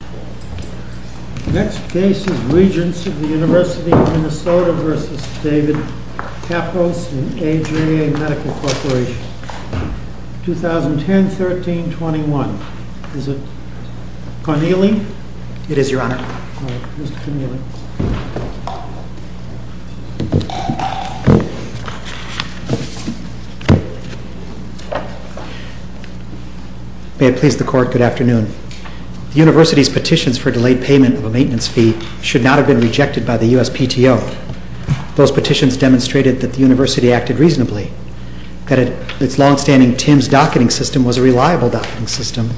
The next case is Regents of the University of Minnesota v. David Kappos and Adria Medical Corporation, 2010-13-21. Is it Corneli? It is, Your Honor. All right. Mr. Corneli. May it please the Court, good afternoon. The University's petitions for delayed payment of a maintenance fee should not have been rejected by the USPTO. Those petitions demonstrated that the University acted reasonably, that its long-standing TIMS docketing system was a reliable docketing system,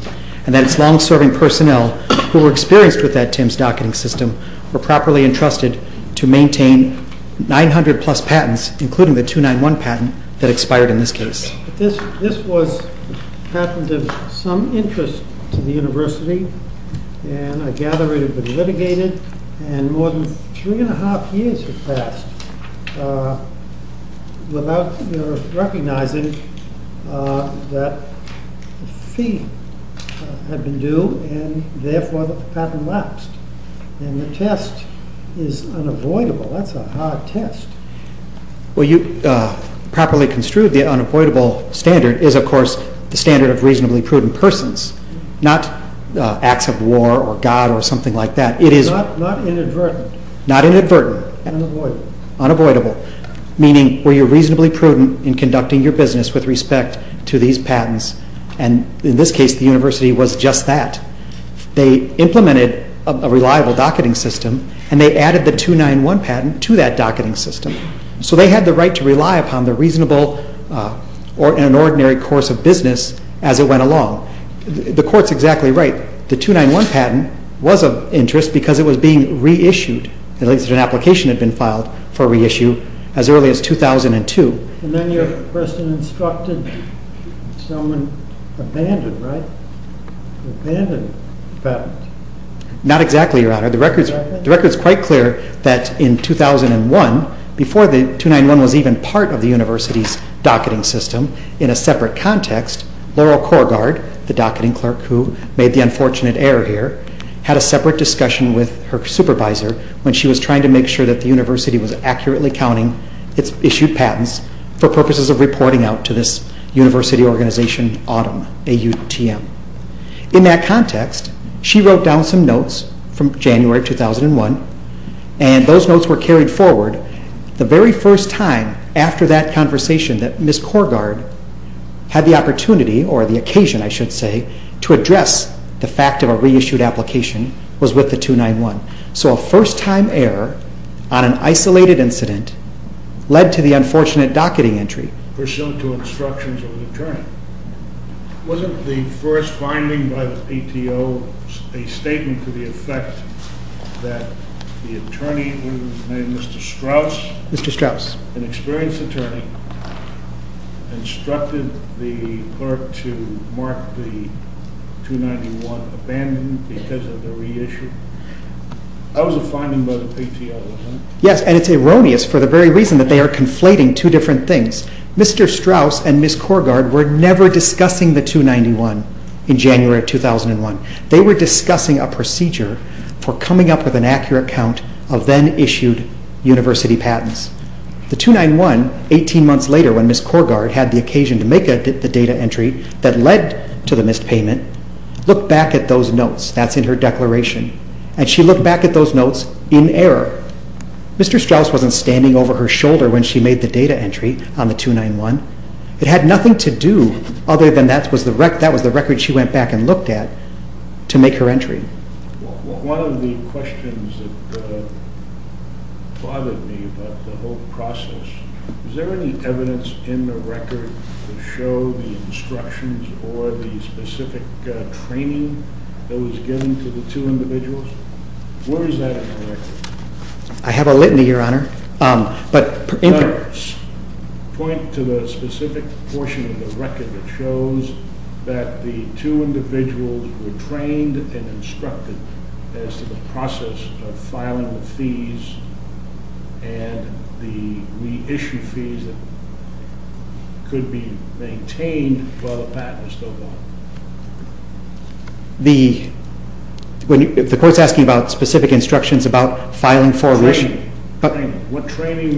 and that its long-serving personnel, who were experienced with that TIMS docketing system, were properly entrusted to maintain 900-plus patents, including the 291 patent that expired in this case. This was a patent of some interest to the University, and I gather it had been litigated, and more than three and a half years had passed without recognizing that the fee had been due, and therefore the patent lapsed. And the test is unavoidable. That's a hard test. Well, you properly construed the unavoidable standard is, of course, the standard of reasonably prudent persons, not acts of war or God or something like that. Not inadvertent. Not inadvertent. Unavoidable. Unavoidable, meaning were you reasonably prudent in conducting your business with respect to these patents, and in this case the University was just that. They implemented a reliable docketing system, and they added the 291 patent to that docketing system. So they had the right to rely upon the reasonable or an ordinary course of business as it went along. The court's exactly right. The 291 patent was of interest because it was being reissued. At least an application had been filed for reissue as early as 2002. And then your person instructed someone abandoned, right? Abandoned the patent. Not exactly, Your Honor. The record's quite clear that in 2001, before the 291 was even part of the University's docketing system, in a separate context, Laurel Korgard, the docketing clerk who made the unfortunate error here, had a separate discussion with her supervisor when she was trying to make sure that the University was accurately counting its issued patents for purposes of reporting out to this University organization, AUTM. In that context, she wrote down some notes from January 2001, and those notes were carried forward. The very first time after that conversation that Ms. Korgard had the opportunity, or the occasion I should say, to address the fact of a reissued application was with the 291. So a first-time error on an isolated incident led to the unfortunate docketing entry. Pursuant to instructions of an attorney. Wasn't the first finding by the PTO a statement to the effect that the attorney who was named Mr. Strauss? Mr. Strauss. An experienced attorney instructed the clerk to mark the 291 abandoned because of the reissue? That was a finding by the PTO, wasn't it? Yes, and it's erroneous for the very reason that they are conflating two different things. Mr. Strauss and Ms. Korgard were never discussing the 291 in January 2001. They were discussing a procedure for coming up with an accurate count of then-issued University patents. The 291, 18 months later when Ms. Korgard had the occasion to make the data entry that led to the missed payment, looked back at those notes, that's in her declaration, and she looked back at those notes in error. Mr. Strauss wasn't standing over her shoulder when she made the data entry on the 291. It had nothing to do other than that was the record she went back and looked at to make her entry. One of the questions that bothered me about the whole process, was there any evidence in the record to show the instructions or the specific training that was given to the two individuals? Where is that in the record? I have a litany, Your Honor. Point to the specific portion of the record that shows that the two individuals were trained and instructed as to the process of filing the fees and the reissue fees that could be maintained while the patent is still valid. The court's asking about specific instructions about filing for a reissue. Training. What training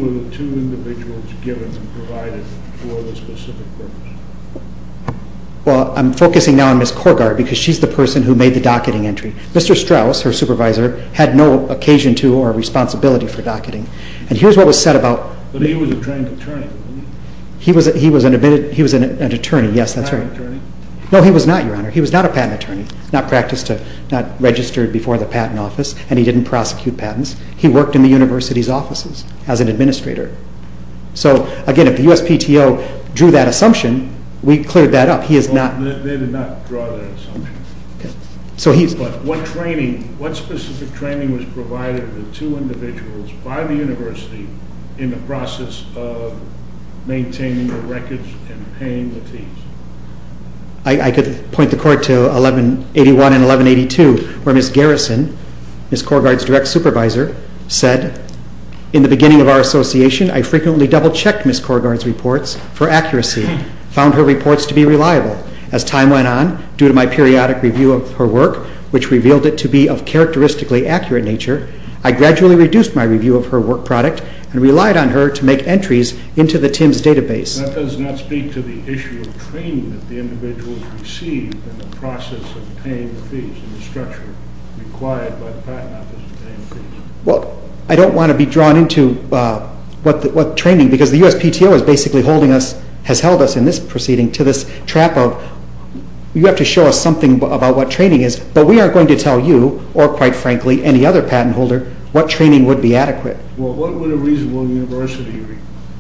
were the two individuals given and provided for the specific purpose? Well, I'm focusing now on Ms. Korgard because she's the person who made the docketing entry. Mr. Strauss, her supervisor, had no occasion to or responsibility for docketing. And here's what was said about... But he was a trained attorney, wasn't he? He was an admitted... he was an attorney, yes, that's right. He was not an attorney? No, he was not, Your Honor. He was not a patent attorney. Not registered before the patent office and he didn't prosecute patents. He worked in the university's offices as an administrator. So, again, if the USPTO drew that assumption, we cleared that up. They did not draw that assumption. But what specific training was provided to the two individuals by the university in the process of maintaining the records and paying the fees? I could point the court to 1181 and 1182 where Ms. Garrison, Ms. Korgard's direct supervisor, said, in the beginning of our association, I frequently double-checked Ms. Korgard's reports for accuracy, found her reports to be reliable. As time went on, due to my periodic review of her work, which revealed it to be of characteristically accurate nature, I gradually reduced my review of her work product and relied on her to make entries into the TIMSS database. That does not speak to the issue of training that the individuals received in the process of paying the fees and the structure required by the patent office to pay the fees. Well, I don't want to be drawn into what training, because the USPTO is basically holding us, has held us in this proceeding to this trap of, you have to show us something about what training is, but we aren't going to tell you or, quite frankly, any other patent holder what training would be adequate. Well, what would a reasonable university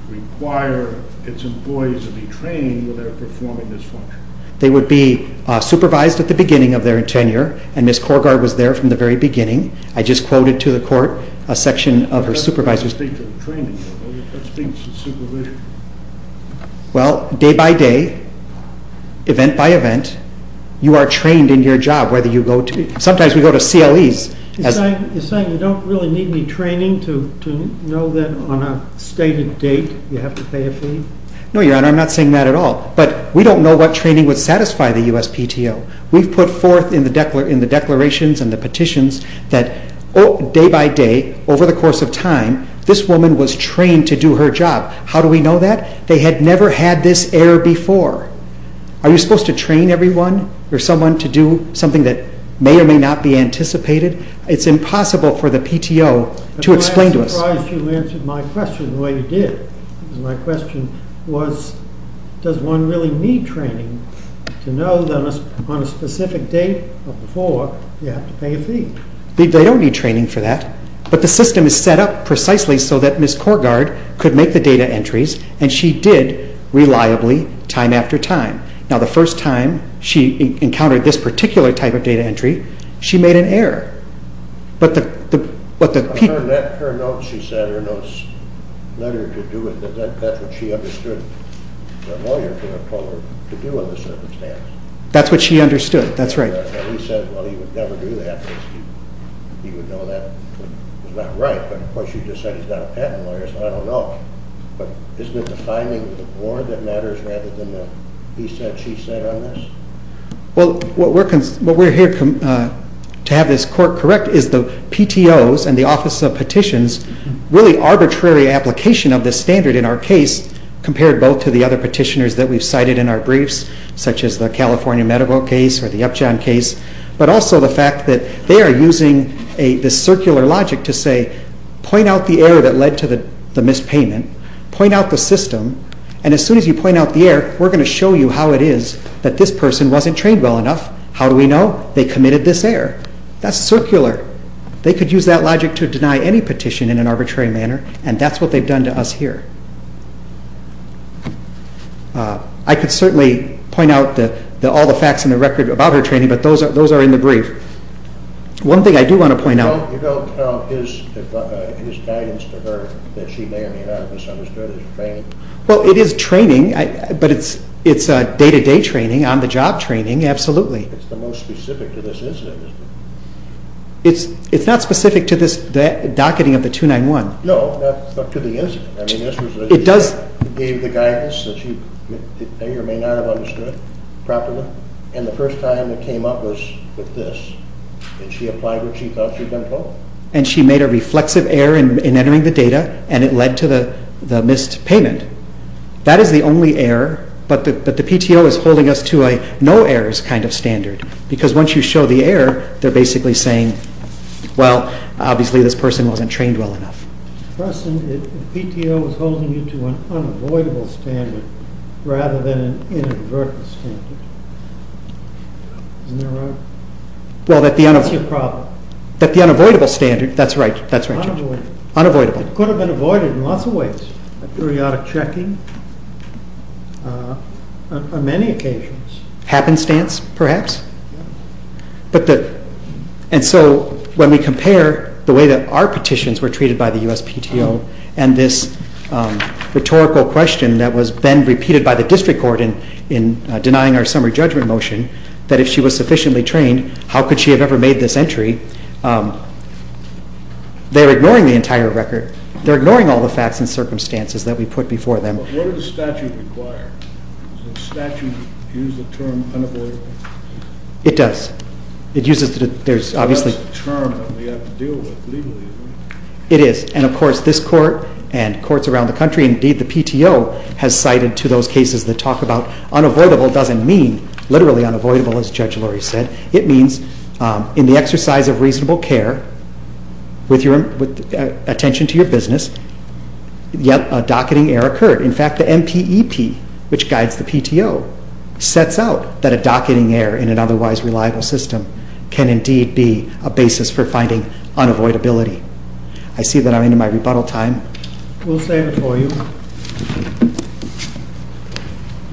require its employees to be trained without performing this function? They would be supervised at the beginning of their tenure, and Ms. Korgard was there from the very beginning. I just quoted to the court a section of her supervisor's... Well, day by day, event by event, you are trained in your job, whether you go to... Sometimes we go to CLEs... You're saying you don't really need any training to know that on a stated date you have to pay a fee? No, Your Honor, I'm not saying that at all. But we don't know what training would satisfy the USPTO. We've put forth in the declarations and the petitions that day by day, over the course of time, this woman was trained to do her job. How do we know that? They had never had this error before. Are you supposed to train everyone or someone to do something that may or may not be anticipated? It's impossible for the PTO to explain to us. I'm surprised you answered my question the way you did. My question was, does one really need training to know that on a specific date or before you have to pay a fee? They don't need training for that. But the system is set up precisely so that Ms. Korgard could make the data entries, and she did, reliably, time after time. Now, the first time she encountered this particular type of data entry, she made an error. But the... But her notes, she said, her notes led her to do it, but that's what she understood the lawyer could have told her to do in the circumstance. That's what she understood, that's right. He said, well, he would never do that. He would know that was not right. But, of course, you just said he's got a patent lawyer, so I don't know. But isn't it the finding of the board that matters rather than the piece that she said on this? Well, what we're here to have this court correct is the PTOs and the Office of Petitions' really arbitrary application of this standard in our case compared both to the other petitioners that we've cited in our briefs, such as the California medical case or the Upjohn case, but also the fact that they are using this circular logic to say, point out the error that led to the mispayment, point out the system, and as soon as you point out the error, we're going to show you how it is that this person wasn't trained well enough. How do we know? They committed this error. That's circular. They could use that logic to deny any petition in an arbitrary manner, and that's what they've done to us here. I could certainly point out all the facts in the record about her training, but those are in the brief. One thing I do want to point out. You don't tell his guidance to her that she may or may not have misunderstood his training? Well, it is training, but it's day-to-day training, on-the-job training, absolutely. It's the most specific to this incident, isn't it? It's not specific to this docketing of the 291. No, not to the incident. You gave the guidance that she may or may not have understood properly, and the first time it came up was with this. Did she apply what she thought she'd been told? And she made a reflexive error in entering the data, and it led to the missed payment. That is the only error, but the PTO is holding us to a no errors kind of standard because once you show the error, they're basically saying, well, obviously this person wasn't trained well enough. The PTO is holding you to an unavoidable standard rather than an inadvertent standard. Isn't that right? Well, that the unavoidable standard, that's right, that's right. Unavoidable. Unavoidable. It could have been avoided in lots of ways, periodic checking, on many occasions. Happenstance, perhaps. And so when we compare the way that our petitions were treated by the USPTO and this rhetorical question that was then repeated by the district court in denying our summary judgment motion, that if she was sufficiently trained, how could she have ever made this entry, they're ignoring the entire record. They're ignoring all the facts and circumstances that we put before them. What does the statute require? Does the statute use the term unavoidable? It does. It uses the term that we have to deal with legally, right? It is. And, of course, this court and courts around the country, indeed the PTO has cited to those cases that talk about unavoidable doesn't mean literally unavoidable, as Judge Lurie said. It means in the exercise of reasonable care with attention to your business, yet a docketing error occurred. In fact, the MPEP, which guides the PTO, sets out that a docketing error in an otherwise reliable system can indeed be a basis for finding unavoidability. I see that I'm into my rebuttal time. We'll stand it for you.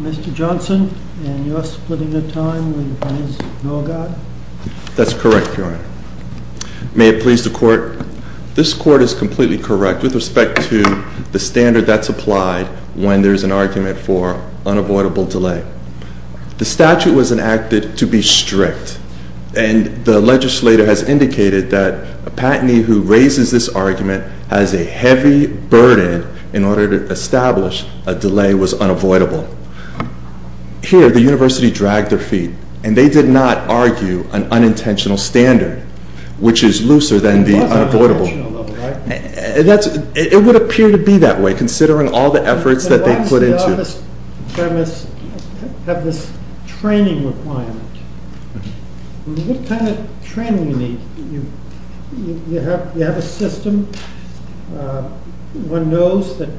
Mr. Johnson, in your splitting of time, will you please go again? That's correct, Your Honor. May it please the court, this court is completely correct with respect to the standard that's applied when there's an argument for unavoidable delay. The statute was enacted to be strict, and the legislator has indicated that a patentee who raises this argument has a heavy burden in order to establish a delay was unavoidable. Here, the university dragged their feet, and they did not argue an unintentional standard, which is looser than the unavoidable. It would appear to be that way, considering all the efforts that they put into it. Why does the office premise have this training requirement? What kind of training do you need? You have a system. One knows that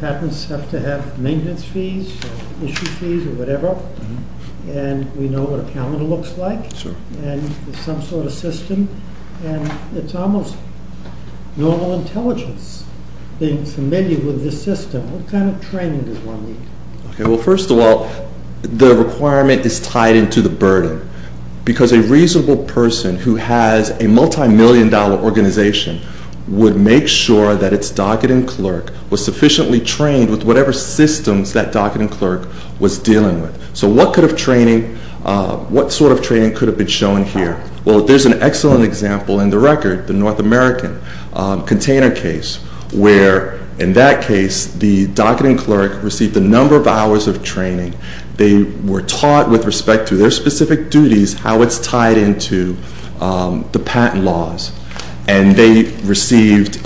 patents have to have maintenance fees or issue fees or whatever, and we know what a calendar looks like. There's some sort of system, and it's almost normal intelligence being familiar with this system. What kind of training does one need? First of all, the requirement is tied into the burden because a reasonable person who has a multimillion-dollar organization would make sure that its docketing clerk was sufficiently trained with whatever systems that docketing clerk was dealing with. So what sort of training could have been shown here? Well, there's an excellent example in the record, the North American container case, where in that case the docketing clerk received a number of hours of training. They were taught with respect to their specific duties how it's tied into the patent laws, and they received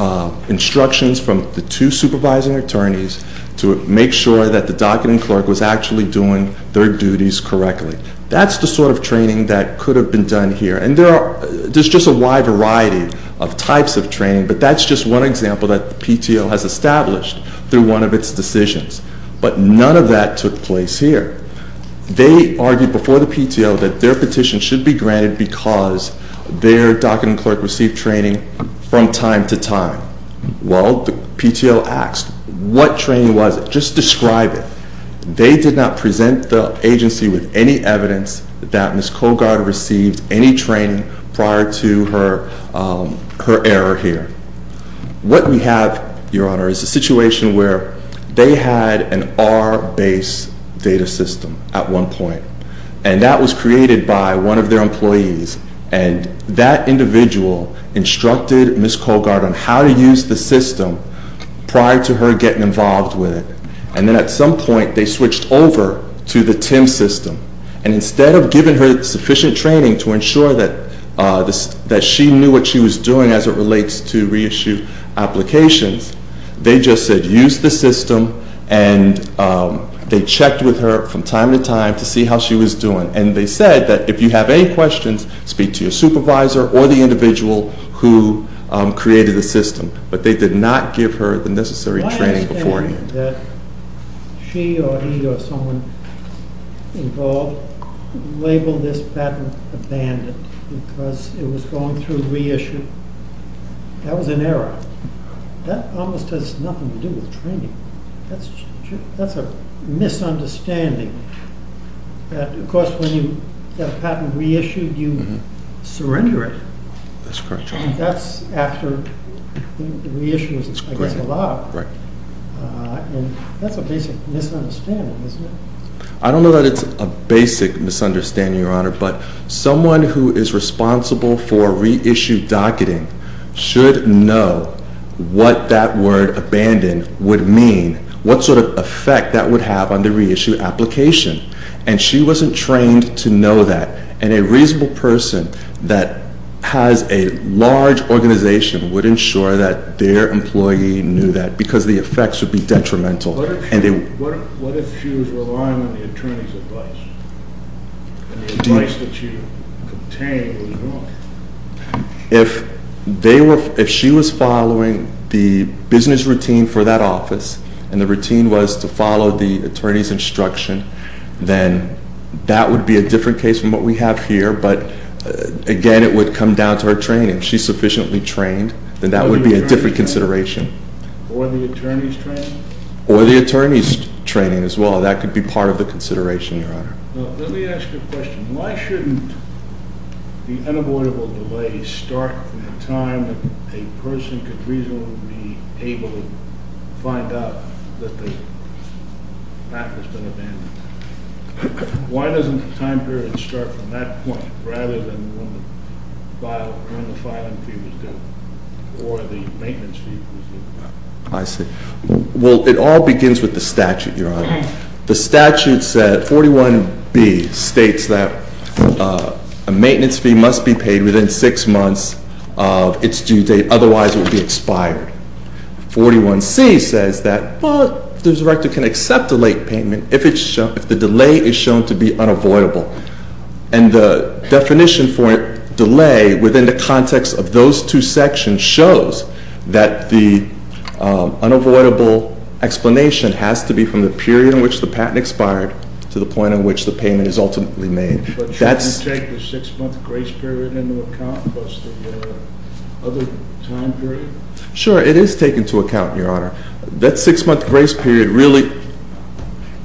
instructions from the two supervising attorneys to make sure that the docketing clerk was actually doing their duties correctly. That's the sort of training that could have been done here, and there's just a wide variety of types of training, but that's just one example that the PTO has established through one of its decisions. But none of that took place here. They argued before the PTO that their petition should be granted because their docketing clerk received training from time to time. Well, the PTO asked, what training was it? Just describe it. They did not present the agency with any evidence that Ms. Colgaard received any training prior to her error here. What we have, Your Honor, is a situation where they had an R-based data system at one point, and that was created by one of their employees, and that individual instructed Ms. Colgaard on how to use the system prior to her getting involved with it, and then at some point they switched over to the TIM system, and instead of giving her sufficient training to ensure that she knew what she was doing as it relates to reissue applications, they just said use the system and they checked with her from time to time to see how she was doing, and they said that if you have any questions, speak to your supervisor or the individual who created the system. But they did not give her the necessary training beforehand. My understanding is that she or he or someone involved labeled this patent abandoned because it was going through reissue. That was an error. That almost has nothing to do with training. That's a misunderstanding. Of course, when you have a patent reissued, you surrender it. That's correct, Your Honor. That's after the reissue is, I guess, allowed. Right. That's a basic misunderstanding, isn't it? I don't know that it's a basic misunderstanding, Your Honor, but someone who is responsible for reissue docketing should know what that word abandoned would mean, what sort of effect that would have on the reissue application, and she wasn't trained to know that, and a reasonable person that has a large organization would ensure that their employee knew that because the effects would be detrimental. What if she was relying on the attorney's advice and the advice that you contained was wrong? If she was following the business routine for that office and the routine was to follow the attorney's instruction, then that would be a different case from what we have here, but, again, it would come down to her training. If she's sufficiently trained, then that would be a different consideration. Or the attorney's training? Or the attorney's training as well. That could be part of the consideration, Your Honor. Let me ask you a question. Why shouldn't the unavoidable delay start at a time that a person could reasonably be able to find out that the map has been abandoned? Why doesn't the time period start from that point rather than when the filing fee was due or the maintenance fee was due? I see. Well, it all begins with the statute, Your Honor. The statute said 41B states that a maintenance fee must be paid within six months of its due date. Otherwise, it would be expired. 41C says that, well, the director can accept a late payment if the delay is shown to be unavoidable. And the definition for delay within the context of those two sections shows that the unavoidable explanation has to be from the period in which the patent expired to the point in which the payment is ultimately made. But shouldn't you take the six-month grace period into account plus the other time period? Sure, it is taken into account, Your Honor. That six-month grace period really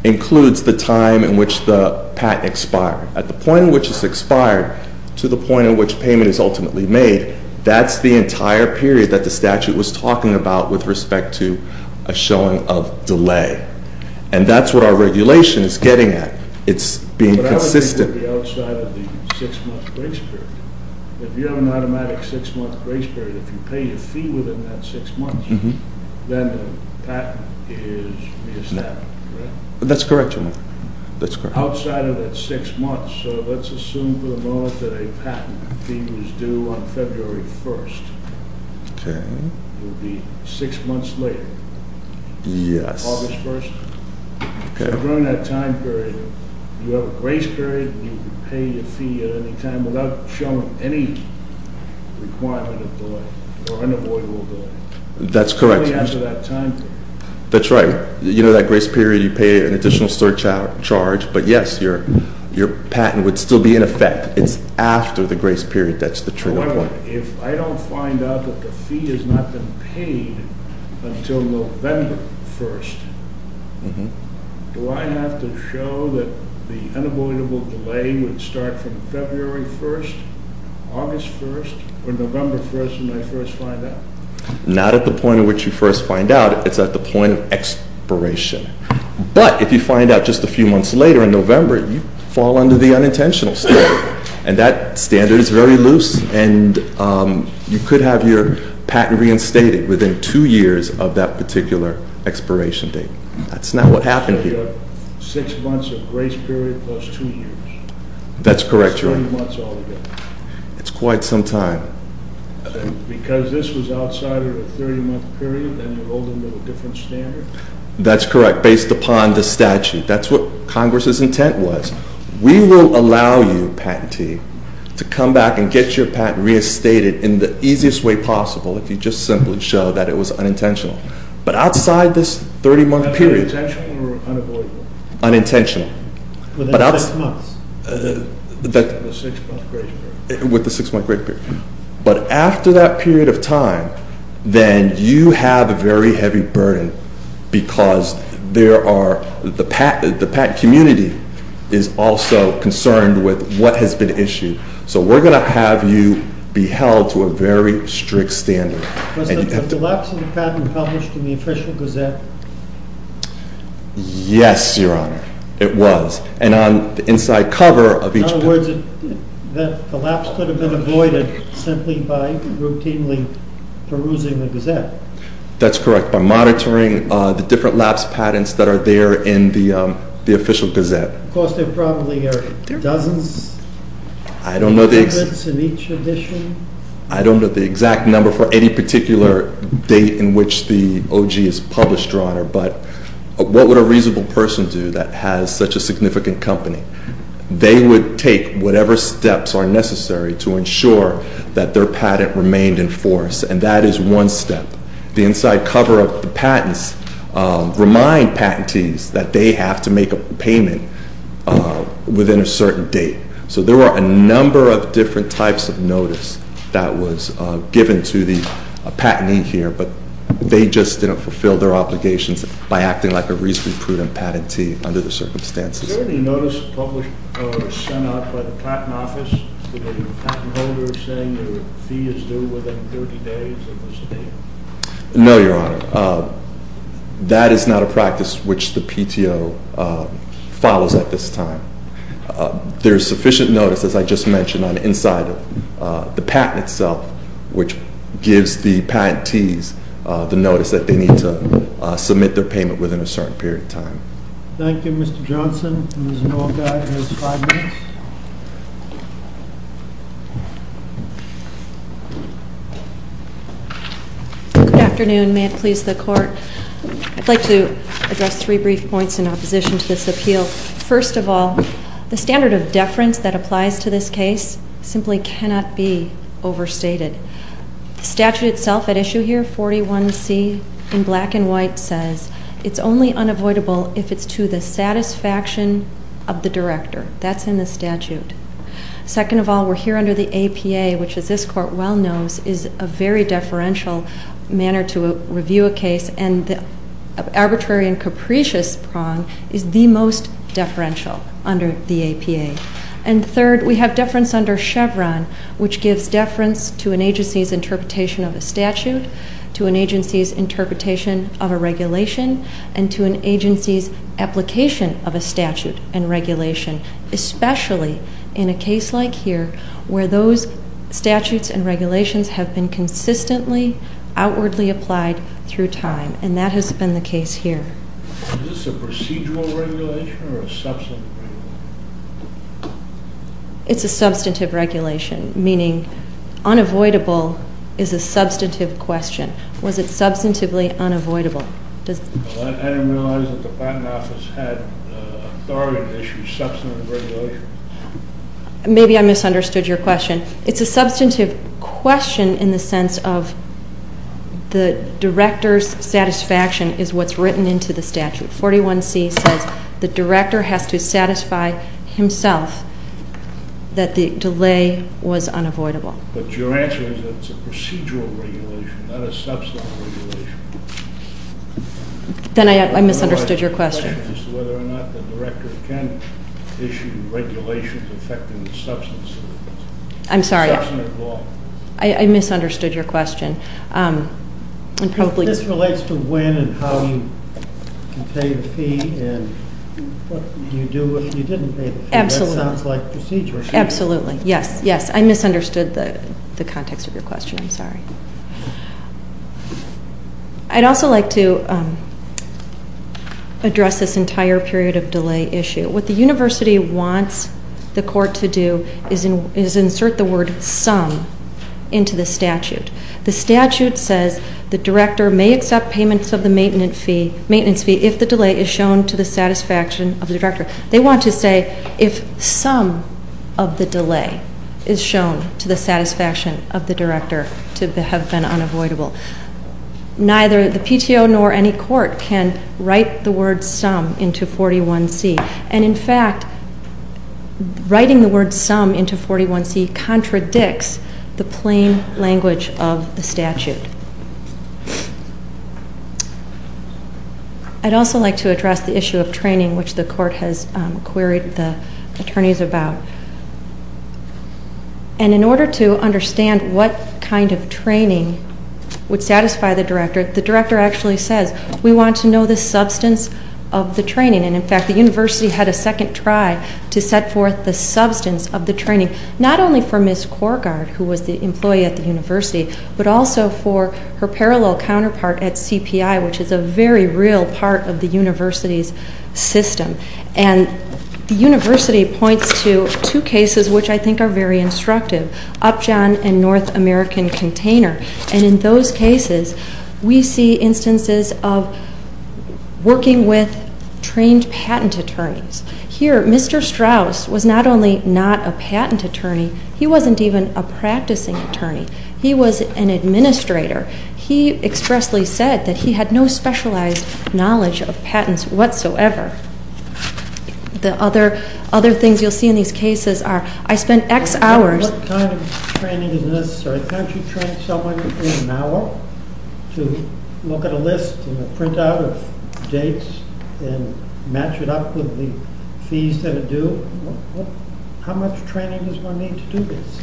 includes the time in which the patent expired. At the point in which it's expired to the point in which payment is ultimately made, that's the entire period that the statute was talking about with respect to a showing of delay. And that's what our regulation is getting at. It's being consistent. But I would think it would be outside of the six-month grace period. If you have an automatic six-month grace period, if you pay your fee within that six months, then the patent is established, correct? That's correct, Your Honor. Outside of that six months, let's assume for the moment that a patent fee was due on February 1st. It would be six months later, August 1st. So during that time period, you have a grace period and you pay your fee at any time without showing any requirement of delay or unavoidable delay. That's correct, Your Honor. Only after that time period. That's right. You know that grace period, you pay an additional surcharge, but yes, your patent would still be in effect. It's after the grace period that's the trigger point. If I don't find out that the fee has not been paid until November 1st, do I have to show that the unavoidable delay would start from February 1st, August 1st, or November 1st when I first find out? Not at the point at which you first find out. It's at the point of expiration. But if you find out just a few months later in November, you fall under the unintentional state. And that standard is very loose. And you could have your patent reinstated within two years of that particular expiration date. That's not what happened here. So you have six months of grace period plus two years. That's correct, Your Honor. That's three months altogether. It's quite some time. Because this was outside of a 30-month period, then you rolled into a different standard? That's correct, based upon the statute. That's what Congress's intent was. We will allow you, patentee, to come back and get your patent reinstated in the easiest way possible if you just simply show that it was unintentional. But outside this 30-month period- Unintentional or unavoidable? Unintentional. Within six months? Within the six-month grace period. With the six-month grace period. But after that period of time, then you have a very heavy burden because the patent community is also concerned with what has been issued. So we're going to have you be held to a very strict standard. Was the collapse of the patent published in the Official Gazette? Yes, Your Honor. It was. And on the inside cover of each- In other words, the collapse could have been avoided simply by routinely perusing the Gazette. That's correct, by monitoring the different lapse patents that are there in the Official Gazette. Of course, there probably are dozens, hundreds in each edition. I don't know the exact number for any particular date in which the OG is published, Your Honor. But what would a reasonable person do that has such a significant company? They would take whatever steps are necessary to ensure that their patent remained in force, and that is one step. The inside cover of the patents remind patentees that they have to make a payment within a certain date. So there were a number of different types of notice that was given to the patentee here, but they just didn't fulfill their obligations by acting like a reasonably proven patentee under the circumstances. Was there any notice published or sent out by the Patent Office to the patent holder saying that a fee is due within 30 days of this date? No, Your Honor. That is not a practice which the PTO follows at this time. There is sufficient notice, as I just mentioned, on the inside of the patent itself, which gives the patentees the notice that they need to submit their payment within a certain period of time. Thank you, Mr. Johnson. Ms. Norgay has five minutes. Good afternoon. May it please the Court? I'd like to address three brief points in opposition to this appeal. First of all, the standard of deference that applies to this case simply cannot be overstated. The statute itself at issue here, 41C in black and white, says, it's only unavoidable if it's to the satisfaction of the director. That's in the statute. Second of all, we're here under the APA, which, as this Court well knows, is a very deferential manner to review a case, and the arbitrary and capricious prong is the most deferential under the APA. And third, we have deference under Chevron, which gives deference to an agency's interpretation of a statute, to an agency's interpretation of a regulation, and to an agency's application of a statute and regulation, especially in a case like here, where those statutes and regulations have been consistently outwardly applied through time, and that has been the case here. Is this a procedural regulation or a substantive regulation? It's a substantive regulation, meaning unavoidable is a substantive question. Was it substantively unavoidable? I didn't realize that the Patent Office had authority to issue substantive regulations. Maybe I misunderstood your question. It's a substantive question in the sense of the director's satisfaction is what's written into the statute. 41C says the director has to satisfy himself that the delay was unavoidable. But your answer is that it's a procedural regulation, not a substantive regulation. Then I misunderstood your question. The director can issue regulations affecting the substance of it. I'm sorry. Substantive law. I misunderstood your question. This relates to when and how you can pay the fee and what you do if you didn't pay the fee. Absolutely. That sounds like procedural. Absolutely, yes, yes. I misunderstood the context of your question. I'm sorry. I'd also like to address this entire period of delay issue. What the university wants the court to do is insert the word some into the statute. The statute says the director may accept payments of the maintenance fee if the delay is shown to the satisfaction of the director. They want to say if some of the delay is shown to the satisfaction of the director to have been unavoidable. Neither the PTO nor any court can write the word some into 41C. And, in fact, writing the word some into 41C contradicts the plain language of the statute. I'd also like to address the issue of training, which the court has queried the attorneys about. And in order to understand what kind of training would satisfy the director, the director actually says, we want to know the substance of the training. And, in fact, the university had a second try to set forth the substance of the training, not only for Ms. Korgard, who was the employee at the university, but also for her parallel counterpart at CPI, which is a very real part of the university's system. And the university points to two cases which I think are very instructive, Upjohn and North American Container. And in those cases, we see instances of working with trained patent attorneys. Here, Mr. Strauss was not only not a patent attorney, he wasn't even a practicing attorney. He was an administrator. He expressly said that he had no specialized knowledge of patents whatsoever. The other things you'll see in these cases are, I spent X hours. What kind of training is necessary? Can't you train someone in an hour to look at a list and a printout of dates and match it up with the fees that are due? How much training does one need to do this?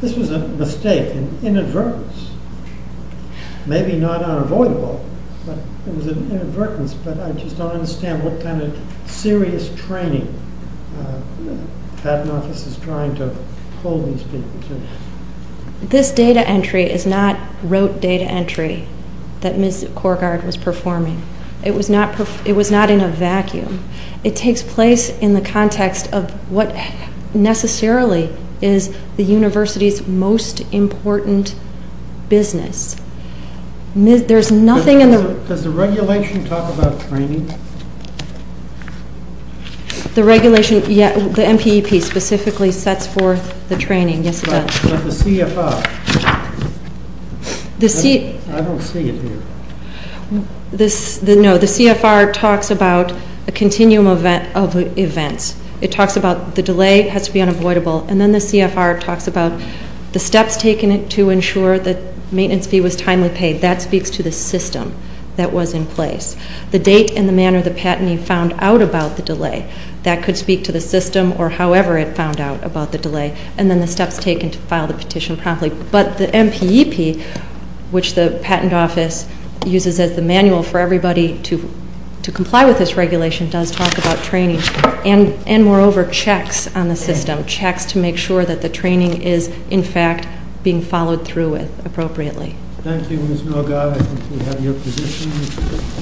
This was a mistake, an inadvertence. Maybe not unavoidable, but it was an inadvertence. But I just don't understand what kind of serious training the patent office is trying to pull these people to. This data entry is not rote data entry that Ms. Corgard was performing. It was not in a vacuum. It takes place in the context of what necessarily is the university's most important business. There's nothing in the... Does the regulation talk about training? The regulation, yeah, the MPEP specifically sets forth the training. Yes, it does. But the CFR. I don't see it here. No, the CFR talks about a continuum of events. It talks about the delay has to be unavoidable. And then the CFR talks about the steps taken to ensure that maintenance fee was timely paid. That speaks to the system that was in place. The date and the manner the patentee found out about the delay, that could speak to the system or however it found out about the delay. And then the steps taken to file the petition promptly. But the MPEP, which the patent office uses as the manual for everybody to comply with this regulation, does talk about training. And, moreover, checks on the system. Checks to make sure that the training is, in fact, being followed through with appropriately. Thank you, Ms. Milgaard. I think we have your position.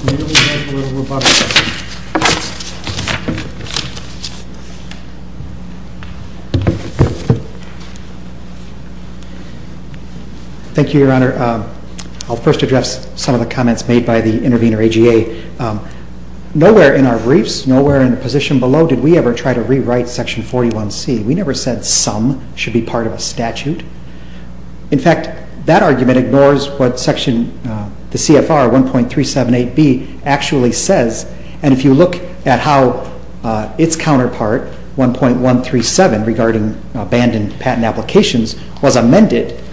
We only have a little more time. Thank you, Your Honor. I'll first address some of the comments made by the intervener, AGA. Nowhere in our briefs, nowhere in the position below, did we ever try to rewrite Section 41C. We never said some should be part of a statute. In fact, that argument ignores what Section CFR 1.378B actually says. And if you look at how its counterpart, 1.137, regarding abandoned patent applications, was amended,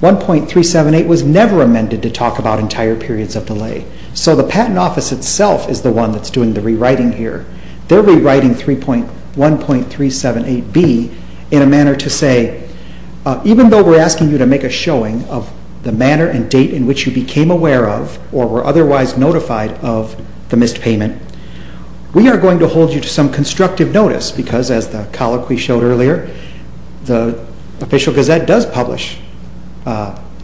1.378 was never amended to talk about entire periods of delay. So the patent office itself is the one that's doing the rewriting here. They're rewriting 1.378B in a manner to say, even though we're asking you to make a showing of the manner and date in which you became aware of or were otherwise notified of the missed payment, we are going to hold you to some constructive notice because, as the colloquy showed earlier, the Official Gazette does publish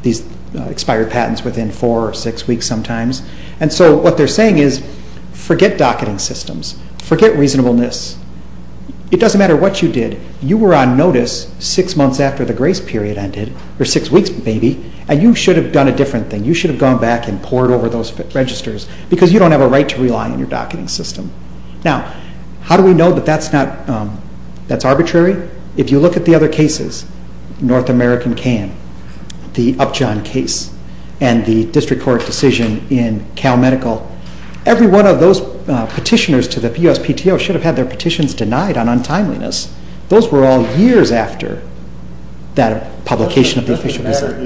these expired patents within four or six weeks sometimes. And so what they're saying is, forget docketing systems. Forget reasonableness. It doesn't matter what you did. You were on notice six months after the grace period ended, or six weeks maybe, and you should have done a different thing. You should have gone back and poured over those registers because you don't have a right to rely on your docketing system. Now, how do we know that that's arbitrary? If you look at the other cases, North American Can, the Upjohn case, and the district court decision in Cal Medical, every one of those petitioners to the USPTO should have had their petitions denied on untimeliness. Those were all years after that publication of the Official Gazette.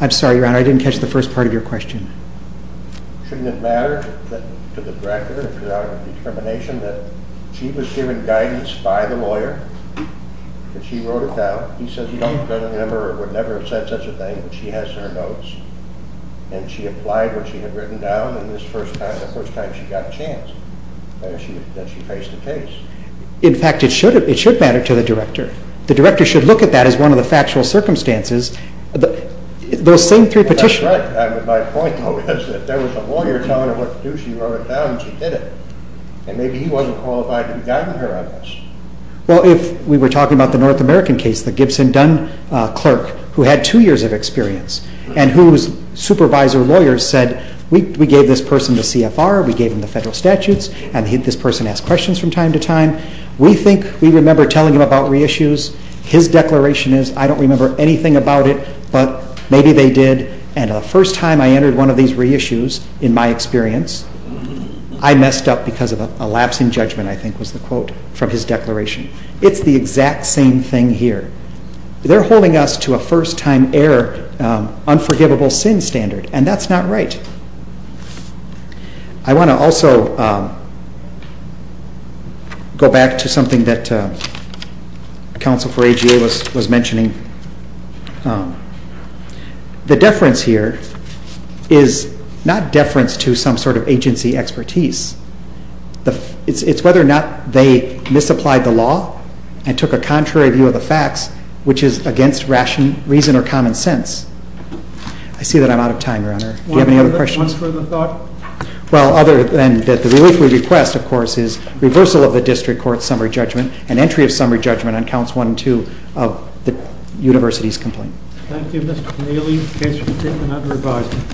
I'm sorry, Your Honor, I didn't catch the first part of your question. In fact, it should matter to the director. The director should look at that as one of the factual circumstances. That's right. My point, though, is that there was a lawyer telling her what to do. She wrote it down, and she did it. And maybe he wasn't qualified to be governor on this. Well, if we were talking about the North American case, the Gibson-Dunn clerk who had two years of experience and whose supervisor lawyer said, we gave this person the CFR, we gave him the federal statutes, and this person asked questions from time to time. We think we remember telling him about reissues. His declaration is, I don't remember anything about it, but maybe they did. And the first time I entered one of these reissues, in my experience, I messed up because of a lapsing judgment, I think was the quote from his declaration. It's the exact same thing here. They're holding us to a first-time error, unforgivable sin standard, and that's not right. I want to also go back to something that counsel for AGA was mentioning. The deference here is not deference to some sort of agency expertise. It's whether or not they misapplied the law and took a contrary view of the facts, which is against reason or common sense. Do you have any other questions? One further thought? Well, other than that the relief we request, of course, is reversal of the district court's summary judgment and entry of summary judgment on counts 1 and 2 of the university's complaint. Thank you, Mr. Connelly. Case for detention and under advisement.